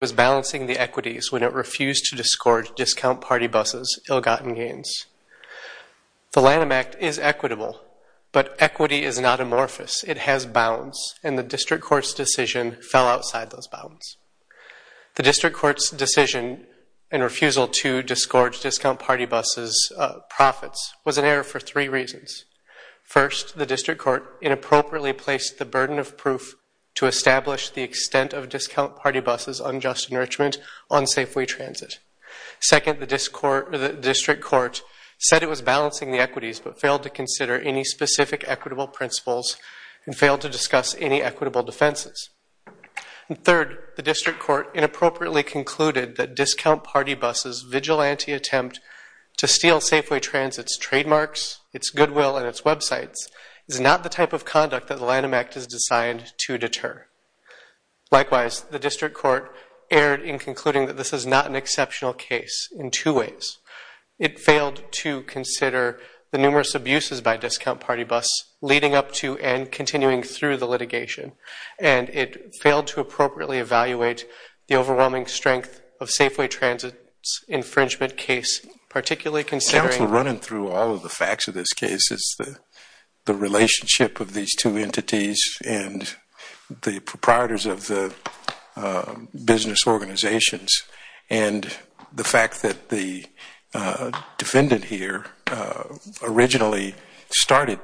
was balancing the equities when it refused to disgorge Discount Party Bus's ill-gotten gains. The Lanham Act is equitable, but equity is not amorphous. It has bounds, and the district court's decision fell outside those bounds. The district court's decision and refusal to disgorge Discount Party Bus's profits was an error for three reasons. First, the district court inappropriately placed the burden of proof to establish the extent of Discount Party Bus's unjust enrichment on Safeway Transit. Second, the district court said it was balancing the equities, but failed to consider any specific equitable principles and failed to discuss any equitable defenses. And third, the district court inappropriately concluded that Discount Party Bus's vigilante attempt to steal Safeway Transit's trademarks, its goodwill, and its websites is not the type of conduct that the Lanham Act is designed to deter. Likewise, the district court erred in concluding that this is not an exceptional case in two ways. It failed to consider the numerous abuses by Discount Party Bus, leading up to and continuing through the litigation. And it failed to appropriately evaluate the overwhelming strength of Safeway Transit's infringement case, particularly considering- I'm also running through all of the facts of this case, the relationship of these two entities and the proprietors of the business organizations, and the fact that the defendant here originally started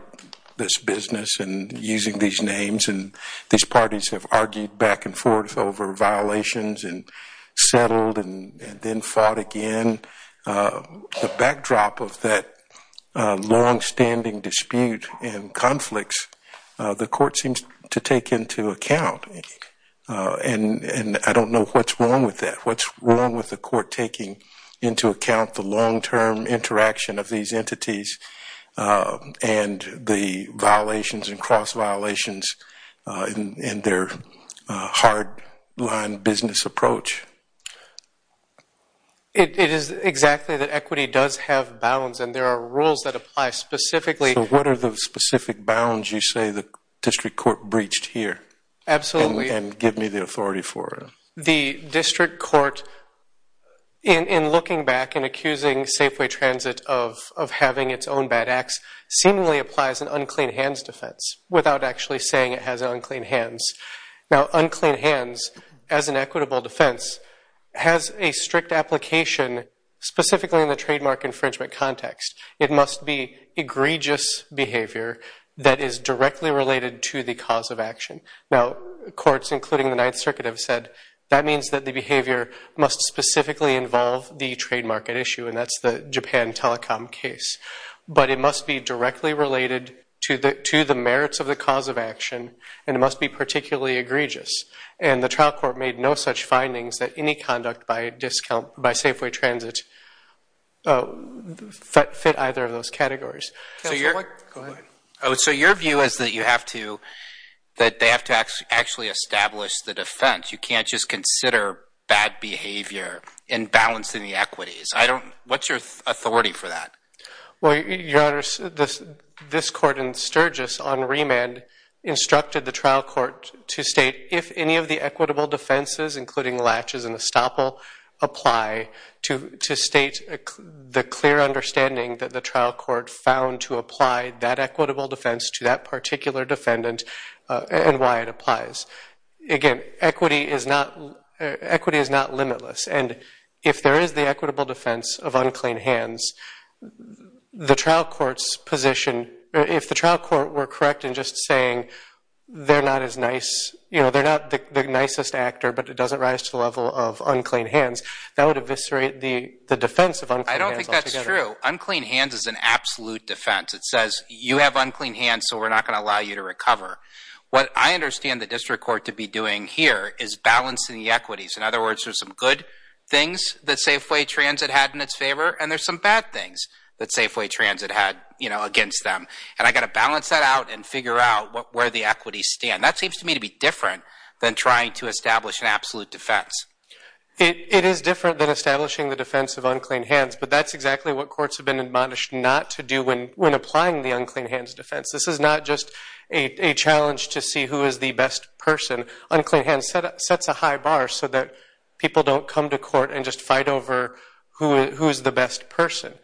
this business and using these names. And these parties have argued back and forth over violations and settled and then fought again. The backdrop of that longstanding dispute and conflicts, the court seems to take into account. And I don't know what's wrong with that. What's wrong with the court taking into account the long-term interaction of these entities and the violations and cross-violations in their hard-line business approach? It is exactly that equity does have bounds. And there are rules that apply specifically- So what are the specific bounds you say the district court breached here? Absolutely. And give me the authority for it. The district court, in looking back and accusing Safeway Transit of having its own bad acts, seemingly applies an unclean hands defense without actually saying it has unclean hands. Now, unclean hands, as an equitable defense, has a strict application specifically in the trademark infringement context. It must be egregious behavior that is directly related to the cause of action. Now, courts, including the Ninth Circuit, have said that means that the behavior must specifically involve the trademark at issue. And that's the Japan Telecom case. But it must be directly related to the merits of the cause of action. And it must be particularly egregious. And the trial court made no such findings that any conduct by Safeway Transit fit either of those categories. So your view is that they have to actually establish the defense. You can't just consider bad behavior in balancing the equities. What's your authority for that? Well, Your Honor, this court in Sturgis on remand instructed the trial court to state if any of the equitable defenses, including latches and estoppel, apply to state the clear understanding that the trial court found to apply that equitable defense to that particular defendant and why it applies. Again, equity is not limitless. And if there is the equitable defense of unclean hands, the trial court's position, if the trial court were correct in just saying they're not the nicest actor, but it doesn't rise to the level of unclean hands, that would eviscerate the defense of unclean hands. I don't think that's true. Unclean hands is an absolute defense. It says, you have unclean hands, so we're not going to allow you to recover. What I understand the district court to be doing here is balancing the equities. In other words, there's some good things that Safeway Transit had in its favor, and there's some bad things that Safeway Transit had against them. And I've got to balance that out and figure out where the equities stand. That seems to me to be different than trying to establish an absolute defense. It is different than establishing the defense of unclean hands, but that's exactly what courts have been admonished not to do when applying the unclean hands defense. This is not just a challenge to see who is the best person. Unclean hands sets a high bar so that people don't come to court and just fight over who is the best person.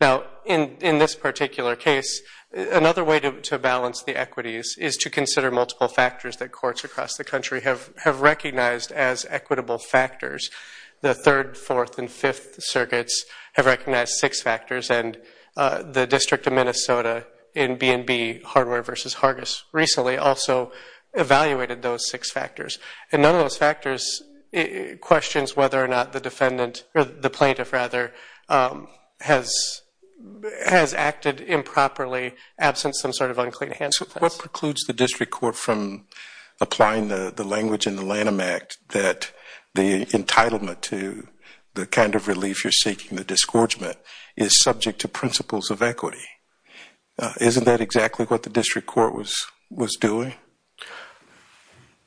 Now, in this particular case, another way to balance the equities is to consider multiple factors that courts across the country have recognized as equitable factors. The Third, Fourth, and Fifth Circuits have recognized six factors, and the District of Minnesota in B&B, Hardware versus Hargis, recently also evaluated those six factors. And none of those factors questions whether or not the defendant, or the plaintiff rather, has acted improperly absent some sort of unclean hands defense. What precludes the district court from applying the language in the Lanham Act that the entitlement to the kind of relief you're seeking, the disgorgement, is subject to principles of equity? Isn't that exactly what the district court was doing?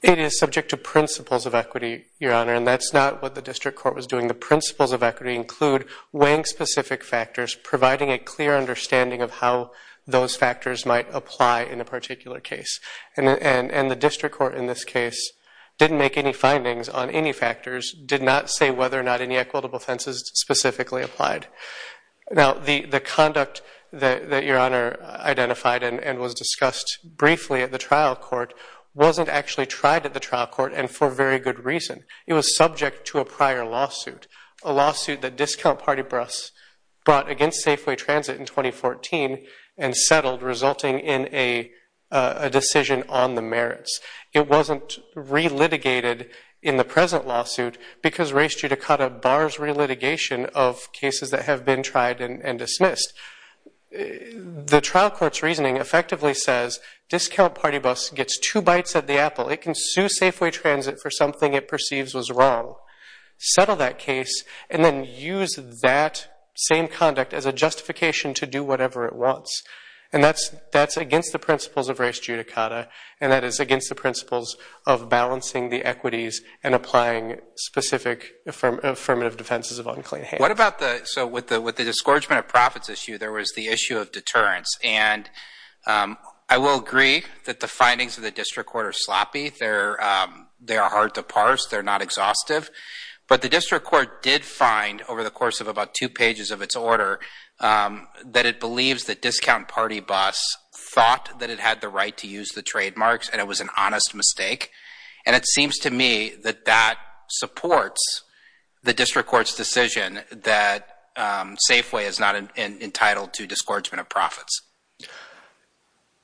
It is subject to principles of equity, Your Honor, and that's not what the district court was doing. The principles of equity include weighing specific factors, providing a clear understanding of how those factors might apply in a particular case. And the district court in this case didn't make any findings on any factors, did not say whether or not any equitable offenses specifically applied. Now, the conduct that Your Honor identified and was discussed briefly at the trial court wasn't actually tried at the trial court, and for very good reason. It was subject to a prior lawsuit, a lawsuit that Discount Party Bus brought against Safeway Transit in 2014 and settled, resulting in a decision on the merits. It wasn't re-litigated in the present lawsuit because race judicata bars re-litigation of cases that have been tried and dismissed. The trial court's reasoning effectively says Discount Party Bus gets two bites at the apple. It can sue Safeway Transit for something it perceives was wrong, settle that case, and then use that same conduct as a justification to do whatever it wants. And that's against the principles of race judicata, and that is against the principles of balancing the equities and applying specific affirmative defenses of unclean hands. What about the, so with the discouragement of profits issue, there was the issue of deterrence. And I will agree that the findings of the district court are sloppy. They are hard to parse. They're not exhaustive. But the district court did find over the course of about two pages of its order that it believes that Discount Party Bus thought that it had the right to use the trademarks and it was an honest mistake. And it seems to me that that supports the district court's decision that Safeway is not entitled to discouragement of profits.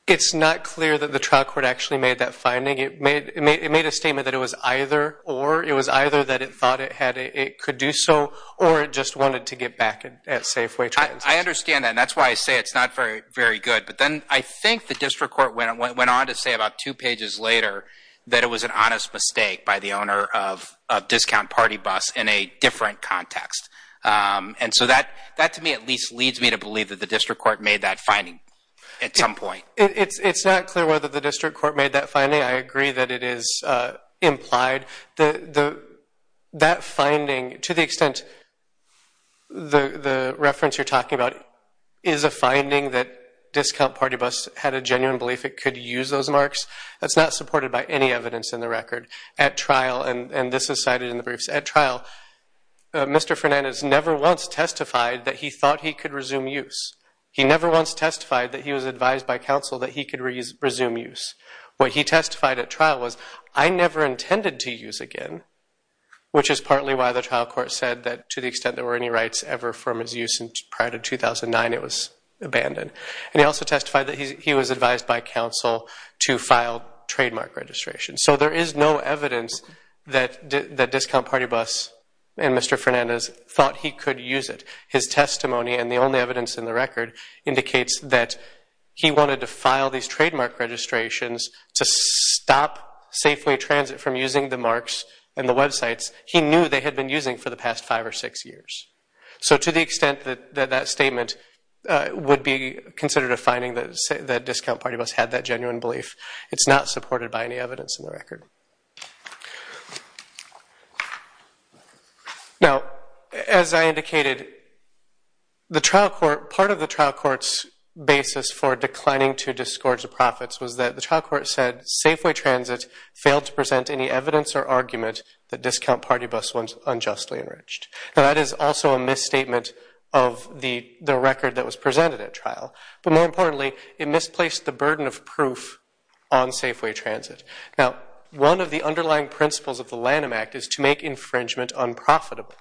It's not clear that the trial court actually made that finding. It made a statement that it was either or. It was either that it thought it could do so, or it just wanted to get back at Safeway. I understand that. And that's why I say it's not very good. But then I think the district court went on to say about two pages later that it was an honest mistake by the owner of Discount Party Bus in a different context. And so that to me at least leads me to believe that the district court made that finding at some point. It's not clear whether the district court made that finding. I agree that it is implied. That finding, to the extent the reference you're talking about is a finding that Discount Party Bus had a genuine belief it could use those marks, that's not supported by any evidence in the record. At trial, and this is cited in the briefs, at trial Mr. Fernandez never once testified that he thought he could resume use. He never once testified that he was advised by counsel that he could resume use. What he testified at trial was, I never intended to use again, which is partly why the trial court said that to the extent there were any rights ever from his use prior to 2009, it was abandoned. And he also testified that he was advised by counsel to file trademark registration. So there is no evidence that Discount Party Bus and Mr. Fernandez thought he could use it. His testimony, and the only evidence in the record, indicates that he wanted to file these trademark registrations to stop Safeway Transit from using the marks and the websites he knew they had been using for the past five or six years. So to the extent that that statement would be considered a finding that Discount Party Bus had that genuine belief, it's not supported by any evidence in the record. Thank you. Now, as I indicated, part of the trial court's basis for declining to disgorge the profits was that the trial court said, Safeway Transit failed to present any evidence or argument that Discount Party Bus was unjustly enriched. Now, that is also a misstatement of the record that was presented at trial. But more importantly, it misplaced the burden of proof on Safeway Transit. Now, one of the underlying principles of the Lanham Act is to make infringement unprofitable.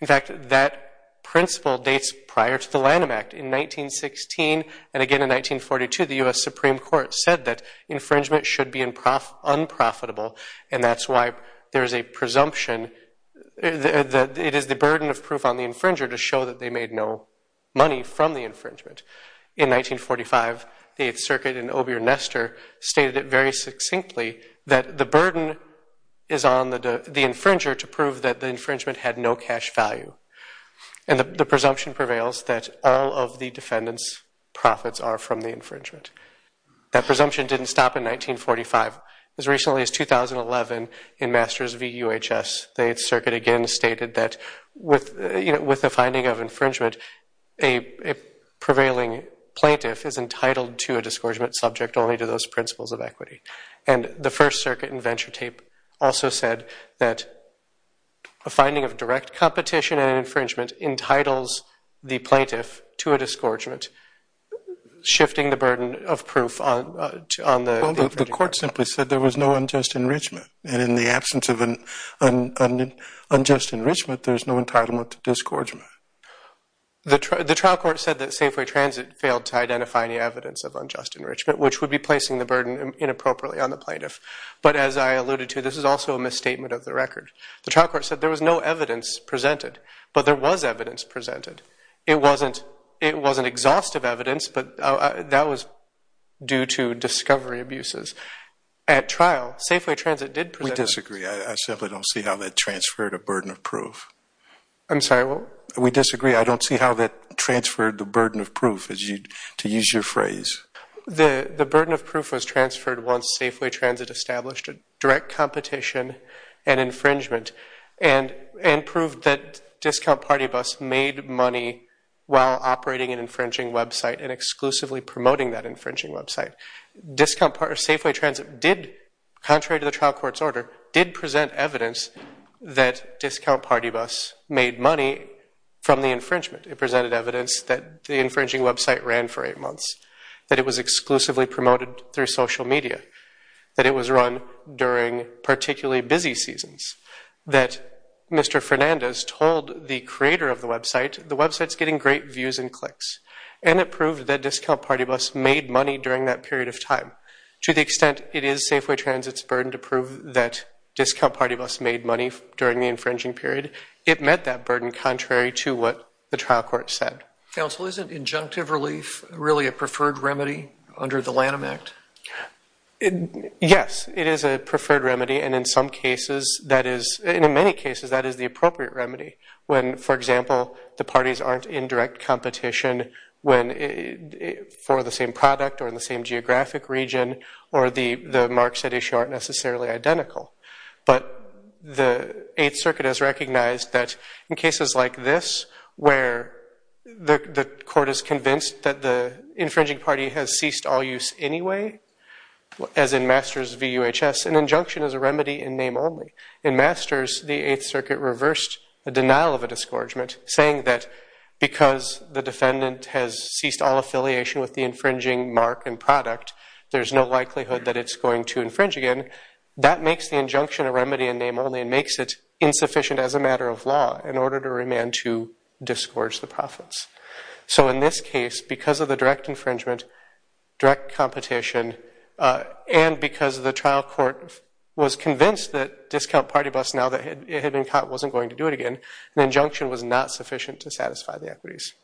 In fact, that principle dates prior to the Lanham Act. In 1916, and again in 1942, the US Supreme Court said that infringement should be unprofitable. And that's why there is a presumption that it is the burden of proof on the infringer to show that they made no money from the infringement. In 1945, the Eighth Circuit in Obier-Nester stated it very succinctly, that the burden is on the infringer to prove that the infringement had no cash value. And the presumption prevails that all of the defendant's profits are from the infringement. That presumption didn't stop in 1945. As recently as 2011, in Masters v. UHS, the Eighth Circuit again stated that with the finding of infringement, a prevailing plaintiff is entitled to a disgorgement subject only to those principles of equity. And the First Circuit in Venture Tape also said that a finding of direct competition and infringement entitles the plaintiff to a disgorgement, shifting the burden of proof on the infringer. Well, the court simply said there was no unjust enrichment. And in the absence of an unjust enrichment, there's no entitlement to disgorgement. The trial court said that Safeway Transit failed to identify any evidence of unjust enrichment, which would be placing the burden inappropriately on the plaintiff. But as I alluded to, this is also a misstatement of the record. The trial court said there was no evidence presented, but there was evidence presented. It wasn't exhaustive evidence, but that was due to discovery abuses. At trial, Safeway Transit did present evidence. We disagree. I simply don't see how that transferred a burden of proof. I'm sorry, what? We disagree. I don't see how that transferred the burden of proof, to use your phrase. The burden of proof was transferred once Safeway Transit established a direct competition and infringement, and proved that discount party bus made money while operating an infringing website and exclusively promoting that infringing website. Safeway Transit did, contrary to the trial court's order, did present evidence that discount party bus made money from the infringement. It presented evidence that the infringing website ran for eight months. That it was exclusively promoted through social media. That it was run during particularly busy seasons. That Mr. Fernandez told the creator of the website, the website's getting great views and clicks. And it proved that discount party bus made money during that period of time. To the extent it is Safeway Transit's burden to prove that discount party bus made money during the infringing period, it met that burden contrary to what the trial court said. Counsel, isn't injunctive relief really a preferred remedy under the Lanham Act? Yes, it is a preferred remedy. And in some cases, that is, in many cases, that is the appropriate remedy. When, for example, the parties aren't in direct competition for the same product, or in the same geographic region, or the marks at issue aren't necessarily identical. But the Eighth Circuit has recognized that in cases like this, where the court is convinced that the infringing party has ceased all use anyway, as in Masters v. UHS, an injunction is a remedy in name only. In Masters, the Eighth Circuit reversed the denial of a discouragement, saying that because the defendant has ceased all affiliation with the infringing mark and product, there's no likelihood that it's going to infringe again. That makes the injunction a remedy in name only and makes it insufficient as a matter of law in order to remand to discourage the profits. So in this case, because of the direct infringement, direct competition, and because the trial court was convinced that discount party bus, now that it had been caught, wasn't going to do it again, an injunction was not sufficient to satisfy the equities.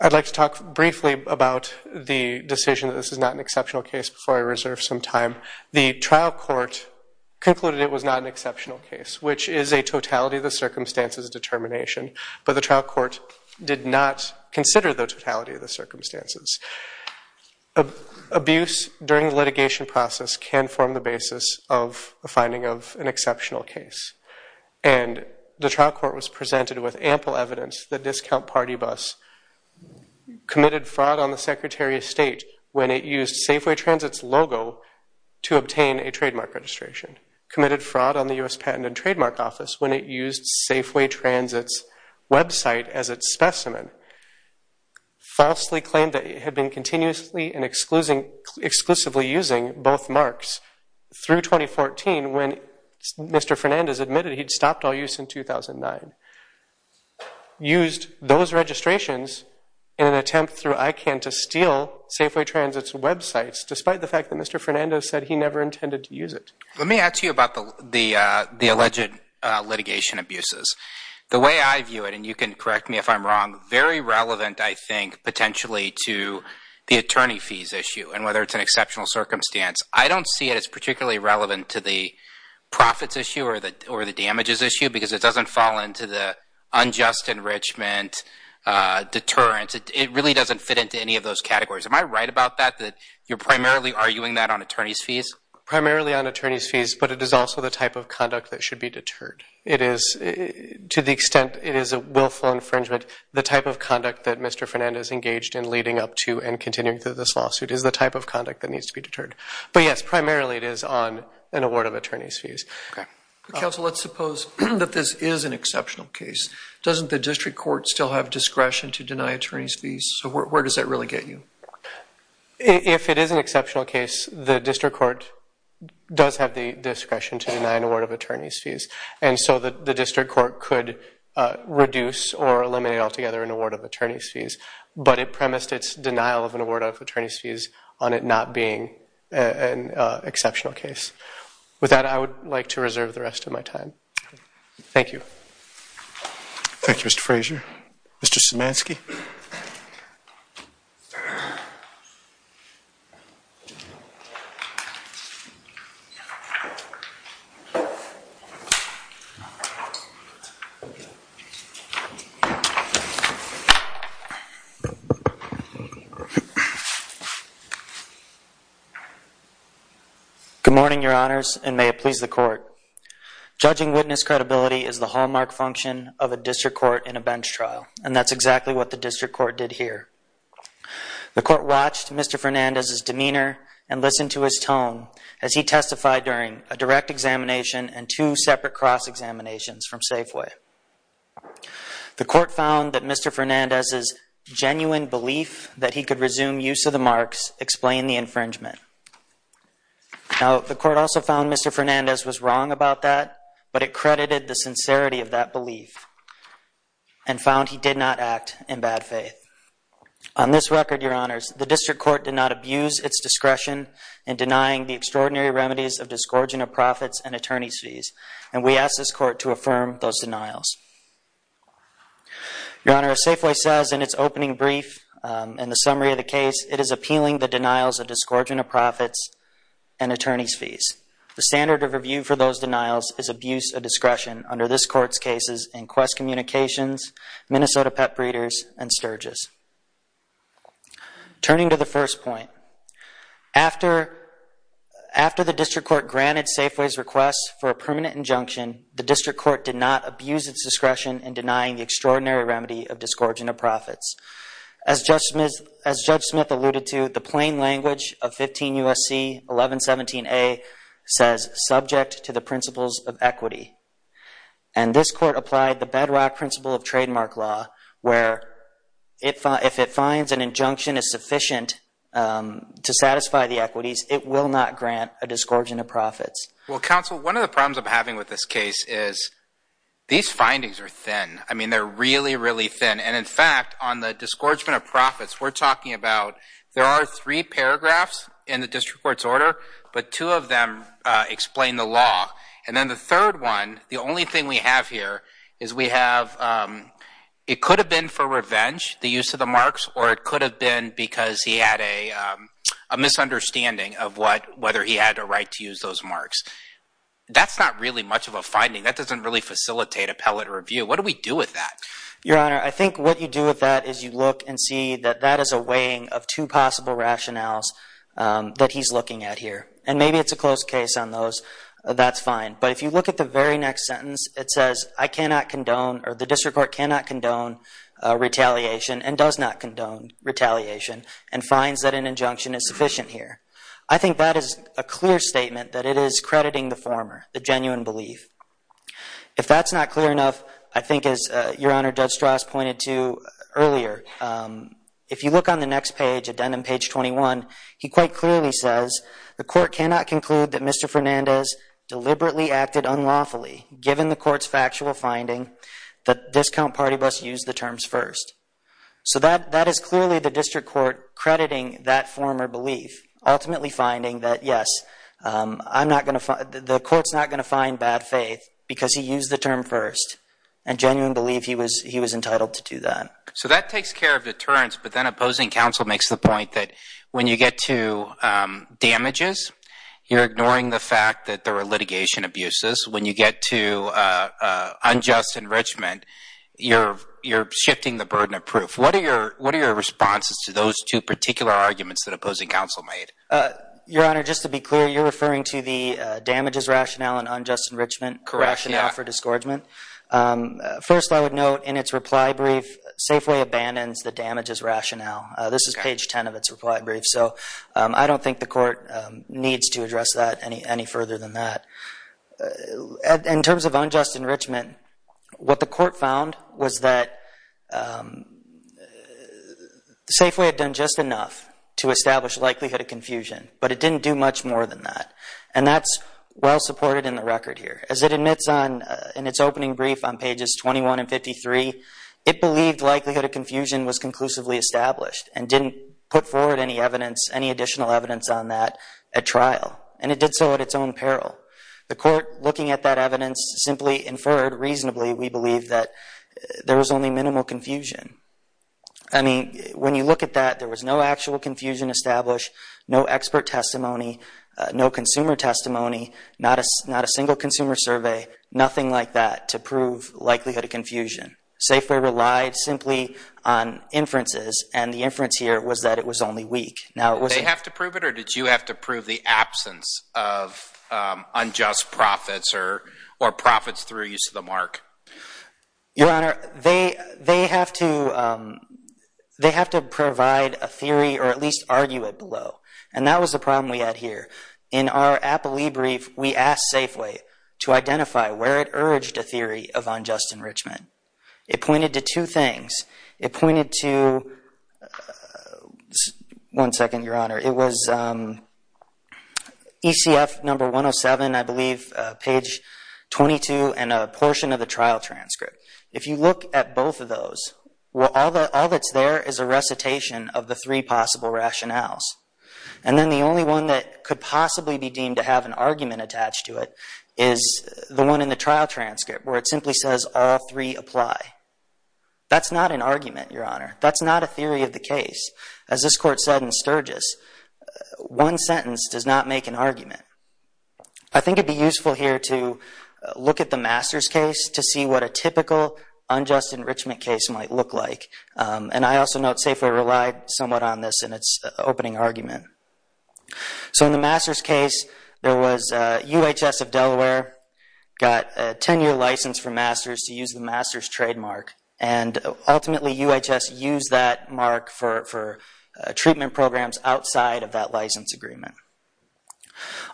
I'd like to talk briefly about the decision that this is not an exceptional case before I reserve some time. The trial court concluded it was not an exceptional case, which is a totality of the circumstances determination. But the trial court did not consider the totality of the circumstances. Abuse during litigation process can form the basis of the finding of an exceptional case. And the trial court was presented with ample evidence that discount party bus committed fraud on the Secretary of State when it used Safeway Transit's to obtain a trademark registration, committed fraud on the US Patent and Trademark Office when it used Safeway Transit's website as its specimen, falsely claimed that it had been continuously and exclusively using both marks through 2014 when Mr. Fernandez admitted he'd stopped all use in 2009, used those registrations in an attempt through ICANN to steal Safeway Transit's websites, despite the fact that Mr. Fernandez said he never intended to use it. Let me ask you about the alleged litigation abuses. The way I view it, and you can correct me if I'm wrong, very relevant, I think, potentially to the attorney fees issue and whether it's an exceptional circumstance. I don't see it as particularly relevant to the profits issue or the damages issue, because it doesn't fall into the unjust enrichment deterrence. It really doesn't fit into any of those categories. Am I right about that, that you're primarily arguing that on attorney's fees? Primarily on attorney's fees, but it is also the type of conduct that should be deterred. It is, to the extent it is a willful infringement, the type of conduct that Mr. Fernandez engaged in leading up to and continuing through this lawsuit is the type of conduct that needs to be deterred. But yes, primarily it is on an award of attorney's fees. Counsel, let's suppose that this is an exceptional case. Doesn't the district court still have discretion to deny attorney's fees? So where does that really get you? If it is an exceptional case, the district court does have the discretion to deny an award of attorney's fees. And so the district court could reduce or eliminate altogether an award of attorney's fees. But it premised its denial of an award of attorney's fees on it not being an exceptional case. With that, I would like to reserve the rest of my time. Thank you. Thank you, Mr. Frazier. Mr. Szymanski. Good morning, Your Honors, and may it please the court. Judging witness credibility is the hallmark function of a district court in a bench trial. And that's exactly what the district court did here. The court watched Mr. Fernandez's demeanor and listened to his tone as he testified during a direct examination and two separate cross-examinations from Safeway. The court found that Mr. Fernandez's genuine belief that he could resume use of the marks explained the infringement. Now, the court also found Mr. Fernandez was wrong about that, but it credited the sincerity of that belief and found he did not act in bad faith. On this record, Your Honors, the district court did not abuse its discretion in denying the extraordinary remedies of disgorging of profits and attorney's fees. And we ask this court to affirm those denials. Your Honor, as Safeway says in its opening brief and the summary of the case, it is appealing the denials of disgorging of profits and attorney's fees. The standard of review for those denials is abuse of discretion under this court's cases in Quest Communications, Minnesota Pet Breeders, and Sturgis. Turning to the first point, after the district court granted Safeway's request for a permanent injunction, the district court did not abuse its discretion in denying the extraordinary remedy of disgorging of profits. As Judge Smith alluded to, the plain language of 15 U.S.C. 1117A says subject to the principles of equity. And this court applied the bedrock principle of trademark law where if it finds an injunction is sufficient to satisfy the equities, it will not grant a disgorging of profits. Well, counsel, one of the problems I'm having with this case is these findings are thin. I mean, they're really, really thin. And in fact, on the disgorgement of profits, we're talking about there are three paragraphs in the district court's order, but two of them explain the law. And then the third one, the only thing we have here is we have, it could have been for revenge, the use of the marks, or it could have been because he had a misunderstanding of whether he had a right to use those marks. That's not really much of a finding. That doesn't really facilitate appellate review. What do we do with that? Your Honor, I think what you do with that is you look and see that that is a weighing of two possible rationales that he's looking at here. And maybe it's a close case on those. That's fine. But if you look at the very next sentence, it says, I cannot condone, or the district court cannot condone retaliation and does not condone retaliation and finds that an injunction is sufficient here. I think that is a clear statement that it is crediting the former, the genuine belief. If that's not clear enough, I think as Your Honor, Judge Strauss pointed to earlier, if you look on the next page, addendum page 21, he quite clearly says, the court cannot conclude that Mr. Fernandez deliberately acted unlawfully given the court's factual finding that Discount Party Bus used the terms first. So that is clearly the district court crediting that former belief, ultimately finding that, yes, the court's not gonna find bad faith because he used the term first and genuine belief he was entitled to do that. So that takes care of deterrence, but then opposing counsel makes the point that when you get to damages, you're ignoring the fact that there are litigation abuses. When you get to unjust enrichment, you're shifting the burden of proof. What are your responses to those two particular arguments that opposing counsel made? Your Honor, just to be clear, you're referring to the damages rationale and unjust enrichment rationale for disgorgement. First, I would note in its reply brief, Safeway abandons the damages rationale. This is page 10 of its reply brief. So I don't think the court needs to address that any further than that. In terms of unjust enrichment, what the court found was that Safeway had done just enough to establish likelihood of confusion, but it didn't do much more than that. And that's well-supported in the record here. As it admits in its opening brief on pages 21 and 53, it believed likelihood of confusion was conclusively established and didn't put forward any additional evidence on that at trial, and it did so at its own peril. The court, looking at that evidence, simply inferred reasonably, we believe that there was only minimal confusion. I mean, when you look at that, there was no actual confusion established, no expert testimony, no consumer testimony, not a single consumer survey, nothing like that to prove likelihood of confusion. Safeway relied simply on inferences, and the inference here was that it was only weak. Now, it wasn't- They have to prove it, or did you have to prove the absence of unjust profits Your Honor, they have to provide a theory, or at least argue it below. And that was the problem we had here. In our Applee brief, we asked Safeway to identify where it urged a theory of unjust enrichment. It pointed to two things. It pointed to, one second, Your Honor, it was ECF number 107, I believe, page 22, and a portion of the trial transcript. If you look at both of those, well, all that's there is a recitation of the three possible rationales. And then the only one that could possibly be deemed to have an argument attached to it is the one in the trial transcript, where it simply says all three apply. That's not an argument, Your Honor. That's not a theory of the case. As this court said in Sturgis, one sentence does not make an argument. I think it'd be useful here to look at the Masters case to see what a typical unjust enrichment case might look like. And I also note Safeway relied somewhat on this in its opening argument. So in the Masters case, there was UHS of Delaware got a 10-year license from Masters to use the Masters trademark. And ultimately, UHS used that mark for treatment programs outside of that license agreement.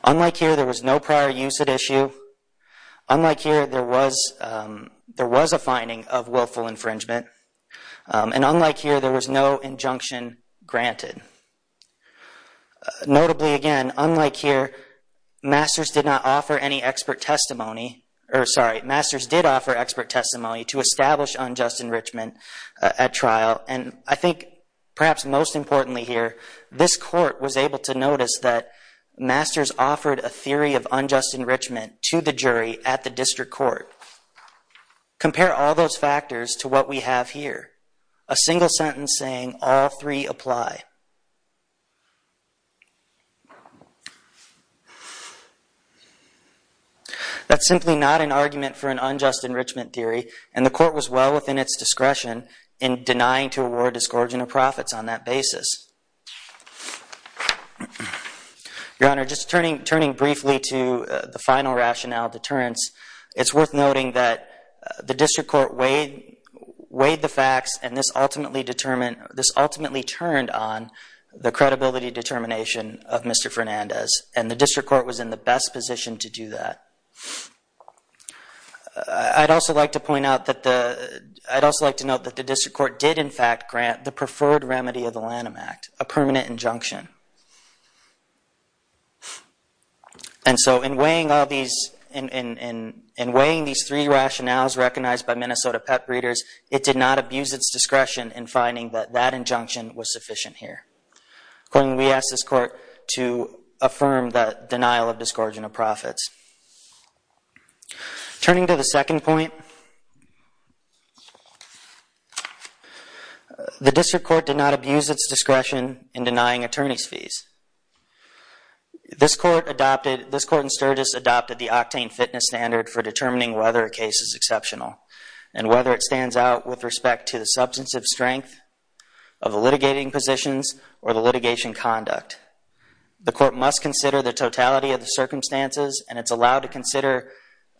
Unlike here, there was no prior use at issue. Unlike here, there was a finding of willful infringement. And unlike here, there was no injunction granted. Notably, again, unlike here, Masters did not offer any expert testimony, or sorry, Masters did offer expert testimony to establish unjust enrichment at trial. And I think perhaps most importantly here, this court was able to notice that Masters offered a theory of unjust enrichment to the jury at the district court. So compare all those factors to what we have here, a single sentence saying all three apply. That's simply not an argument for an unjust enrichment theory, and the court was well within its discretion in denying to award discontent of profits on that basis. Your Honor, just turning briefly to the final rationale deterrence, it's worth noting that the district court weighed the facts and this ultimately turned on the credibility determination of Mr. Fernandez, and the district court was in the best position to do that. I'd also like to point out that the, I'd also like to note that the district court did in fact grant the preferred remedy of the Lanham Act, a permanent injunction. And so in weighing all these, in weighing these three rationales recognized by Minnesota pet breeders, it did not abuse its discretion in finding that that injunction was sufficient here. Accordingly, we ask this court to affirm the denial of discontent of profits. Turning to the second point, the district court did not abuse its discretion in denying attorney's fees. This court adopted, this court in Sturgis adopted the octane fitness standard for determining whether a case is exceptional, and whether it stands out with respect to the substantive strength of the litigating positions or the litigation conduct. The court must consider the totality of the circumstances, and it's allowed to consider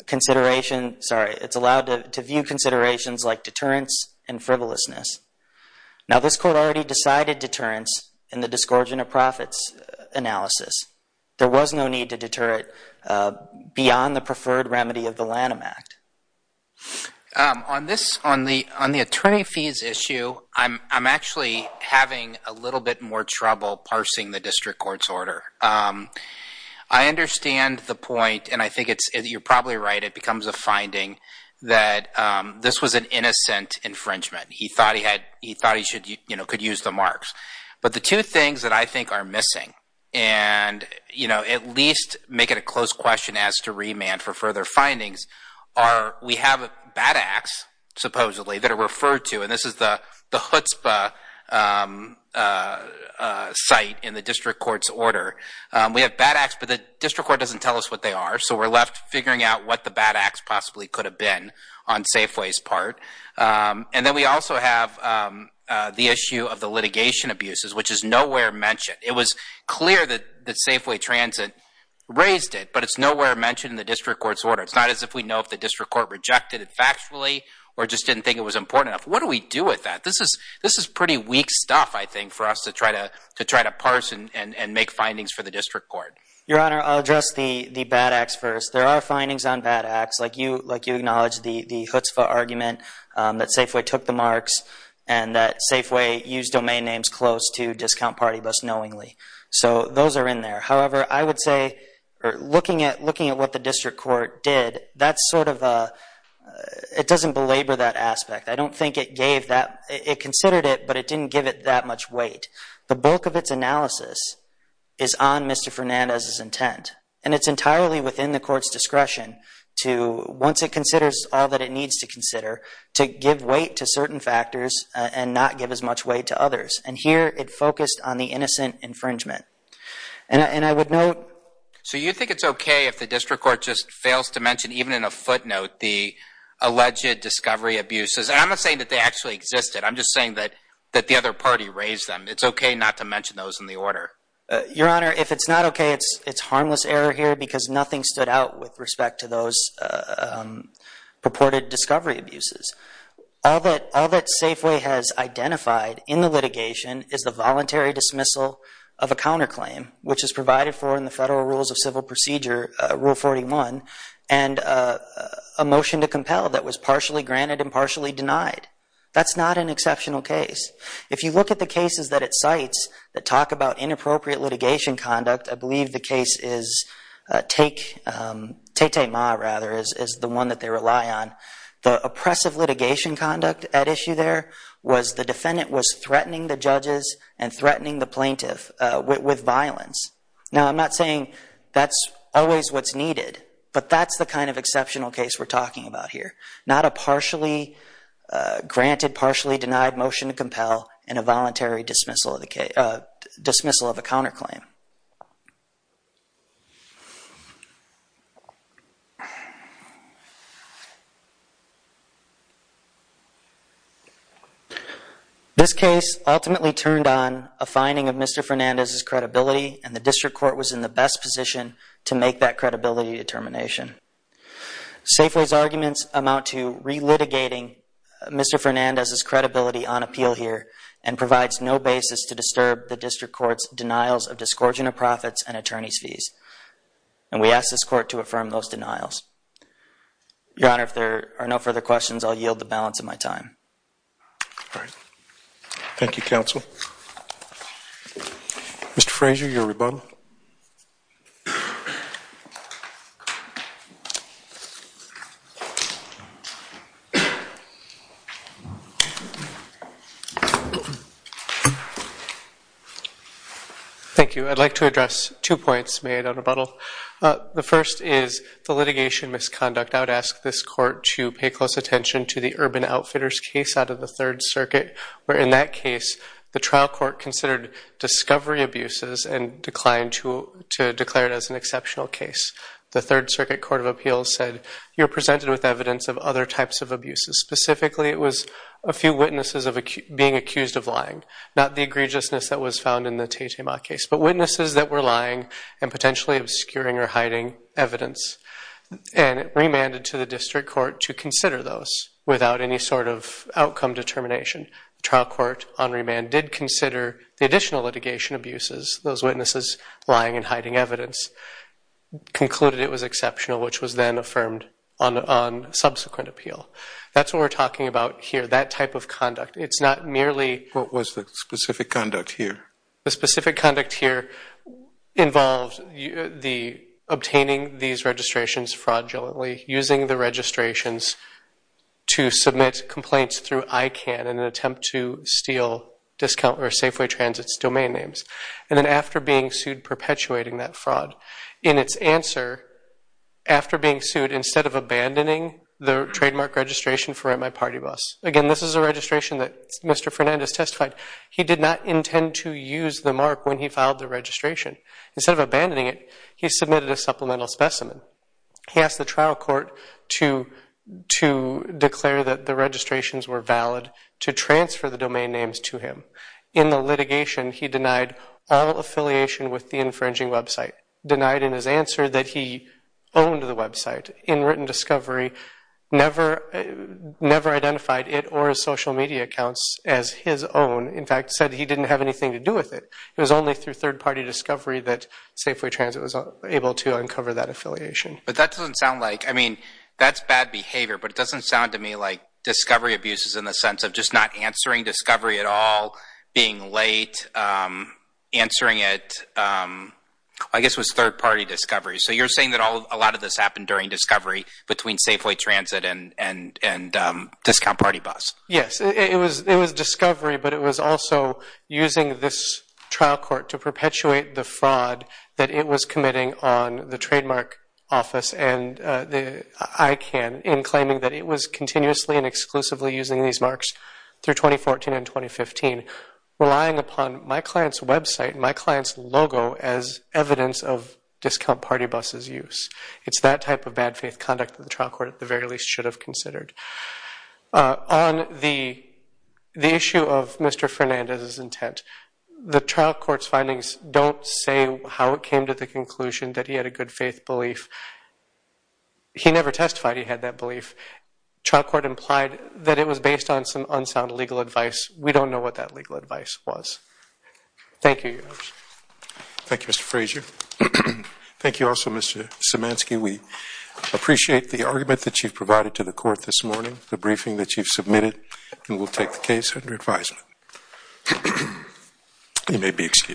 consideration, sorry, it's allowed to view considerations like deterrence and frivolousness. Now, this court already decided deterrence in the discontent of profits analysis. There was no need to deter it beyond the preferred remedy of the Lanham Act. On this, on the attorney fees issue, I'm actually having a little bit more trouble parsing the district court's order. I understand the point, and I think it's, you're probably right, it becomes a finding that this was an innocent infringement. He thought he had, he thought he should, you know, could use the marks. But the two things that I think are missing, and, you know, at least make it a close question as to remand for further findings, are we have bad acts, supposedly, that are referred to, and this is the chutzpah site in the district court's order. We have bad acts, but the district court doesn't tell us what they are, possibly could have been on Safeway's part. And then we also have the issue of the litigation abuses, which is nowhere mentioned. It was clear that Safeway Transit raised it, but it's nowhere mentioned in the district court's order. It's not as if we know if the district court rejected it factually, or just didn't think it was important enough. What do we do with that? This is pretty weak stuff, I think, for us to try to parse and make findings for the district court. Your Honor, I'll address the bad acts first. There are findings on bad acts, like you acknowledged the chutzpah argument that Safeway took the marks, and that Safeway used domain names close to Discount Party Bus knowingly. So those are in there. However, I would say, looking at what the district court did, that's sort of a, it doesn't belabor that aspect. I don't think it gave that, it considered it, but it didn't give it that much weight. The bulk of its analysis is on Mr. Fernandez's intent, and it's entirely within the court's discretion to, once it considers all that it needs to consider, to give weight to certain factors and not give as much weight to others. And here, it focused on the innocent infringement. And I would note. So you think it's okay if the district court just fails to mention, even in a footnote, the alleged discovery abuses? And I'm not saying that they actually existed. I'm just saying that the other party raised them. It's okay not to mention those in the order. Your Honor, if it's not okay, it's harmless error here, because nothing stood out with respect to those purported discovery abuses. All that Safeway has identified in the litigation is the voluntary dismissal of a counterclaim, which is provided for in the Federal Rules of Civil Procedure, Rule 41, and a motion to compel that was partially granted and partially denied. That's not an exceptional case. If you look at the cases that it cites that talk about inappropriate litigation conduct, I believe the case is Tatema, rather, is the one that they rely on. The oppressive litigation conduct at issue there was the defendant was threatening the judges and threatening the plaintiff with violence. Now, I'm not saying that's always what's needed, but that's the kind of exceptional case we're talking about here. Not a partially granted, partially denied motion to compel and a voluntary dismissal of a counterclaim. This case ultimately turned on a finding of Mr. Fernandez's credibility, and the district court was in the best position to make that credibility determination. Safeway's arguments amount to relitigating Mr. Fernandez's credibility on appeal here and provides no basis to disturb the district court's disgorging of profits and attorney's fees, and we ask this court to affirm those denials. Your Honor, if there are no further questions, I'll yield the balance of my time. Thank you, counsel. Mr. Frazier, your rebuttal. Thank you. I'd like to address two points made on rebuttal. The first is the litigation misconduct. I would ask this court to pay close attention to the Urban Outfitters case out of the Third Circuit, where in that case, the trial court considered discovery abuses and declined to declare it as an exceptional case. The Third Circuit Court of Appeals said you're presented with evidence of other types of abuses. Specifically, it was a few witnesses of being accused of lying, not the egregiousness that was found in the Teiteimat case, but witnesses that were lying and potentially obscuring or hiding evidence. And it remanded to the district court to consider those without any sort of outcome determination. The trial court, on remand, did consider the additional litigation abuses, those witnesses lying and hiding evidence, concluded it was exceptional, which was then affirmed on subsequent appeal. That's what we're talking about here, that type of conduct. It's not merely what was the specific conduct here. The specific conduct here involves obtaining these registrations fraudulently, using the registrations to submit complaints through ICANN in an attempt to steal Safeway Transit's domain names. And then after being sued, perpetuating that fraud. In its answer, after being sued, instead of abandoning the trademark registration for my party bus. Again, this is a registration that Mr. Fernandez testified. He did not intend to use the mark when he filed the registration. Instead of abandoning it, he submitted a supplemental specimen. He asked the trial court to declare that the registrations were valid to transfer the domain names to him. In the litigation, he denied all affiliation with the infringing website. Denied in his answer that he owned the website. In written discovery, never identified it or his social media accounts as his own. In fact, said he didn't have anything to do with it. It was only through third party discovery that Safeway Transit was able to uncover that affiliation. But that doesn't sound like, I mean, that's bad behavior. But it doesn't sound to me like discovery abuses in the sense of just not answering discovery at all, being late, answering it, I guess, was third party discovery. So you're saying that a lot of this happened during discovery between Safeway Transit and discount party bus? Yes, it was discovery. But it was also using this trial court to perpetuate the fraud that it was committing on the trademark office and the ICANN in claiming that it was continuously and exclusively using these marks through 2014 and 2015, relying upon my client's website, my client's logo, as evidence of discount party buses use. It's that type of bad faith conduct that the trial court, at the very least, should have considered. On the issue of Mr. Fernandez's intent, the trial court's findings don't say how it came to the conclusion that he had a good faith belief. He never testified he had that belief. Trial court implied that it was based on some unsound legal advice. We don't know what that legal advice was. Thank you, Your Honor. Thank you, Mr. Frazier. Thank you also, Mr. Szymanski. We appreciate the argument that you've provided to the court this morning, the briefing You may be excused.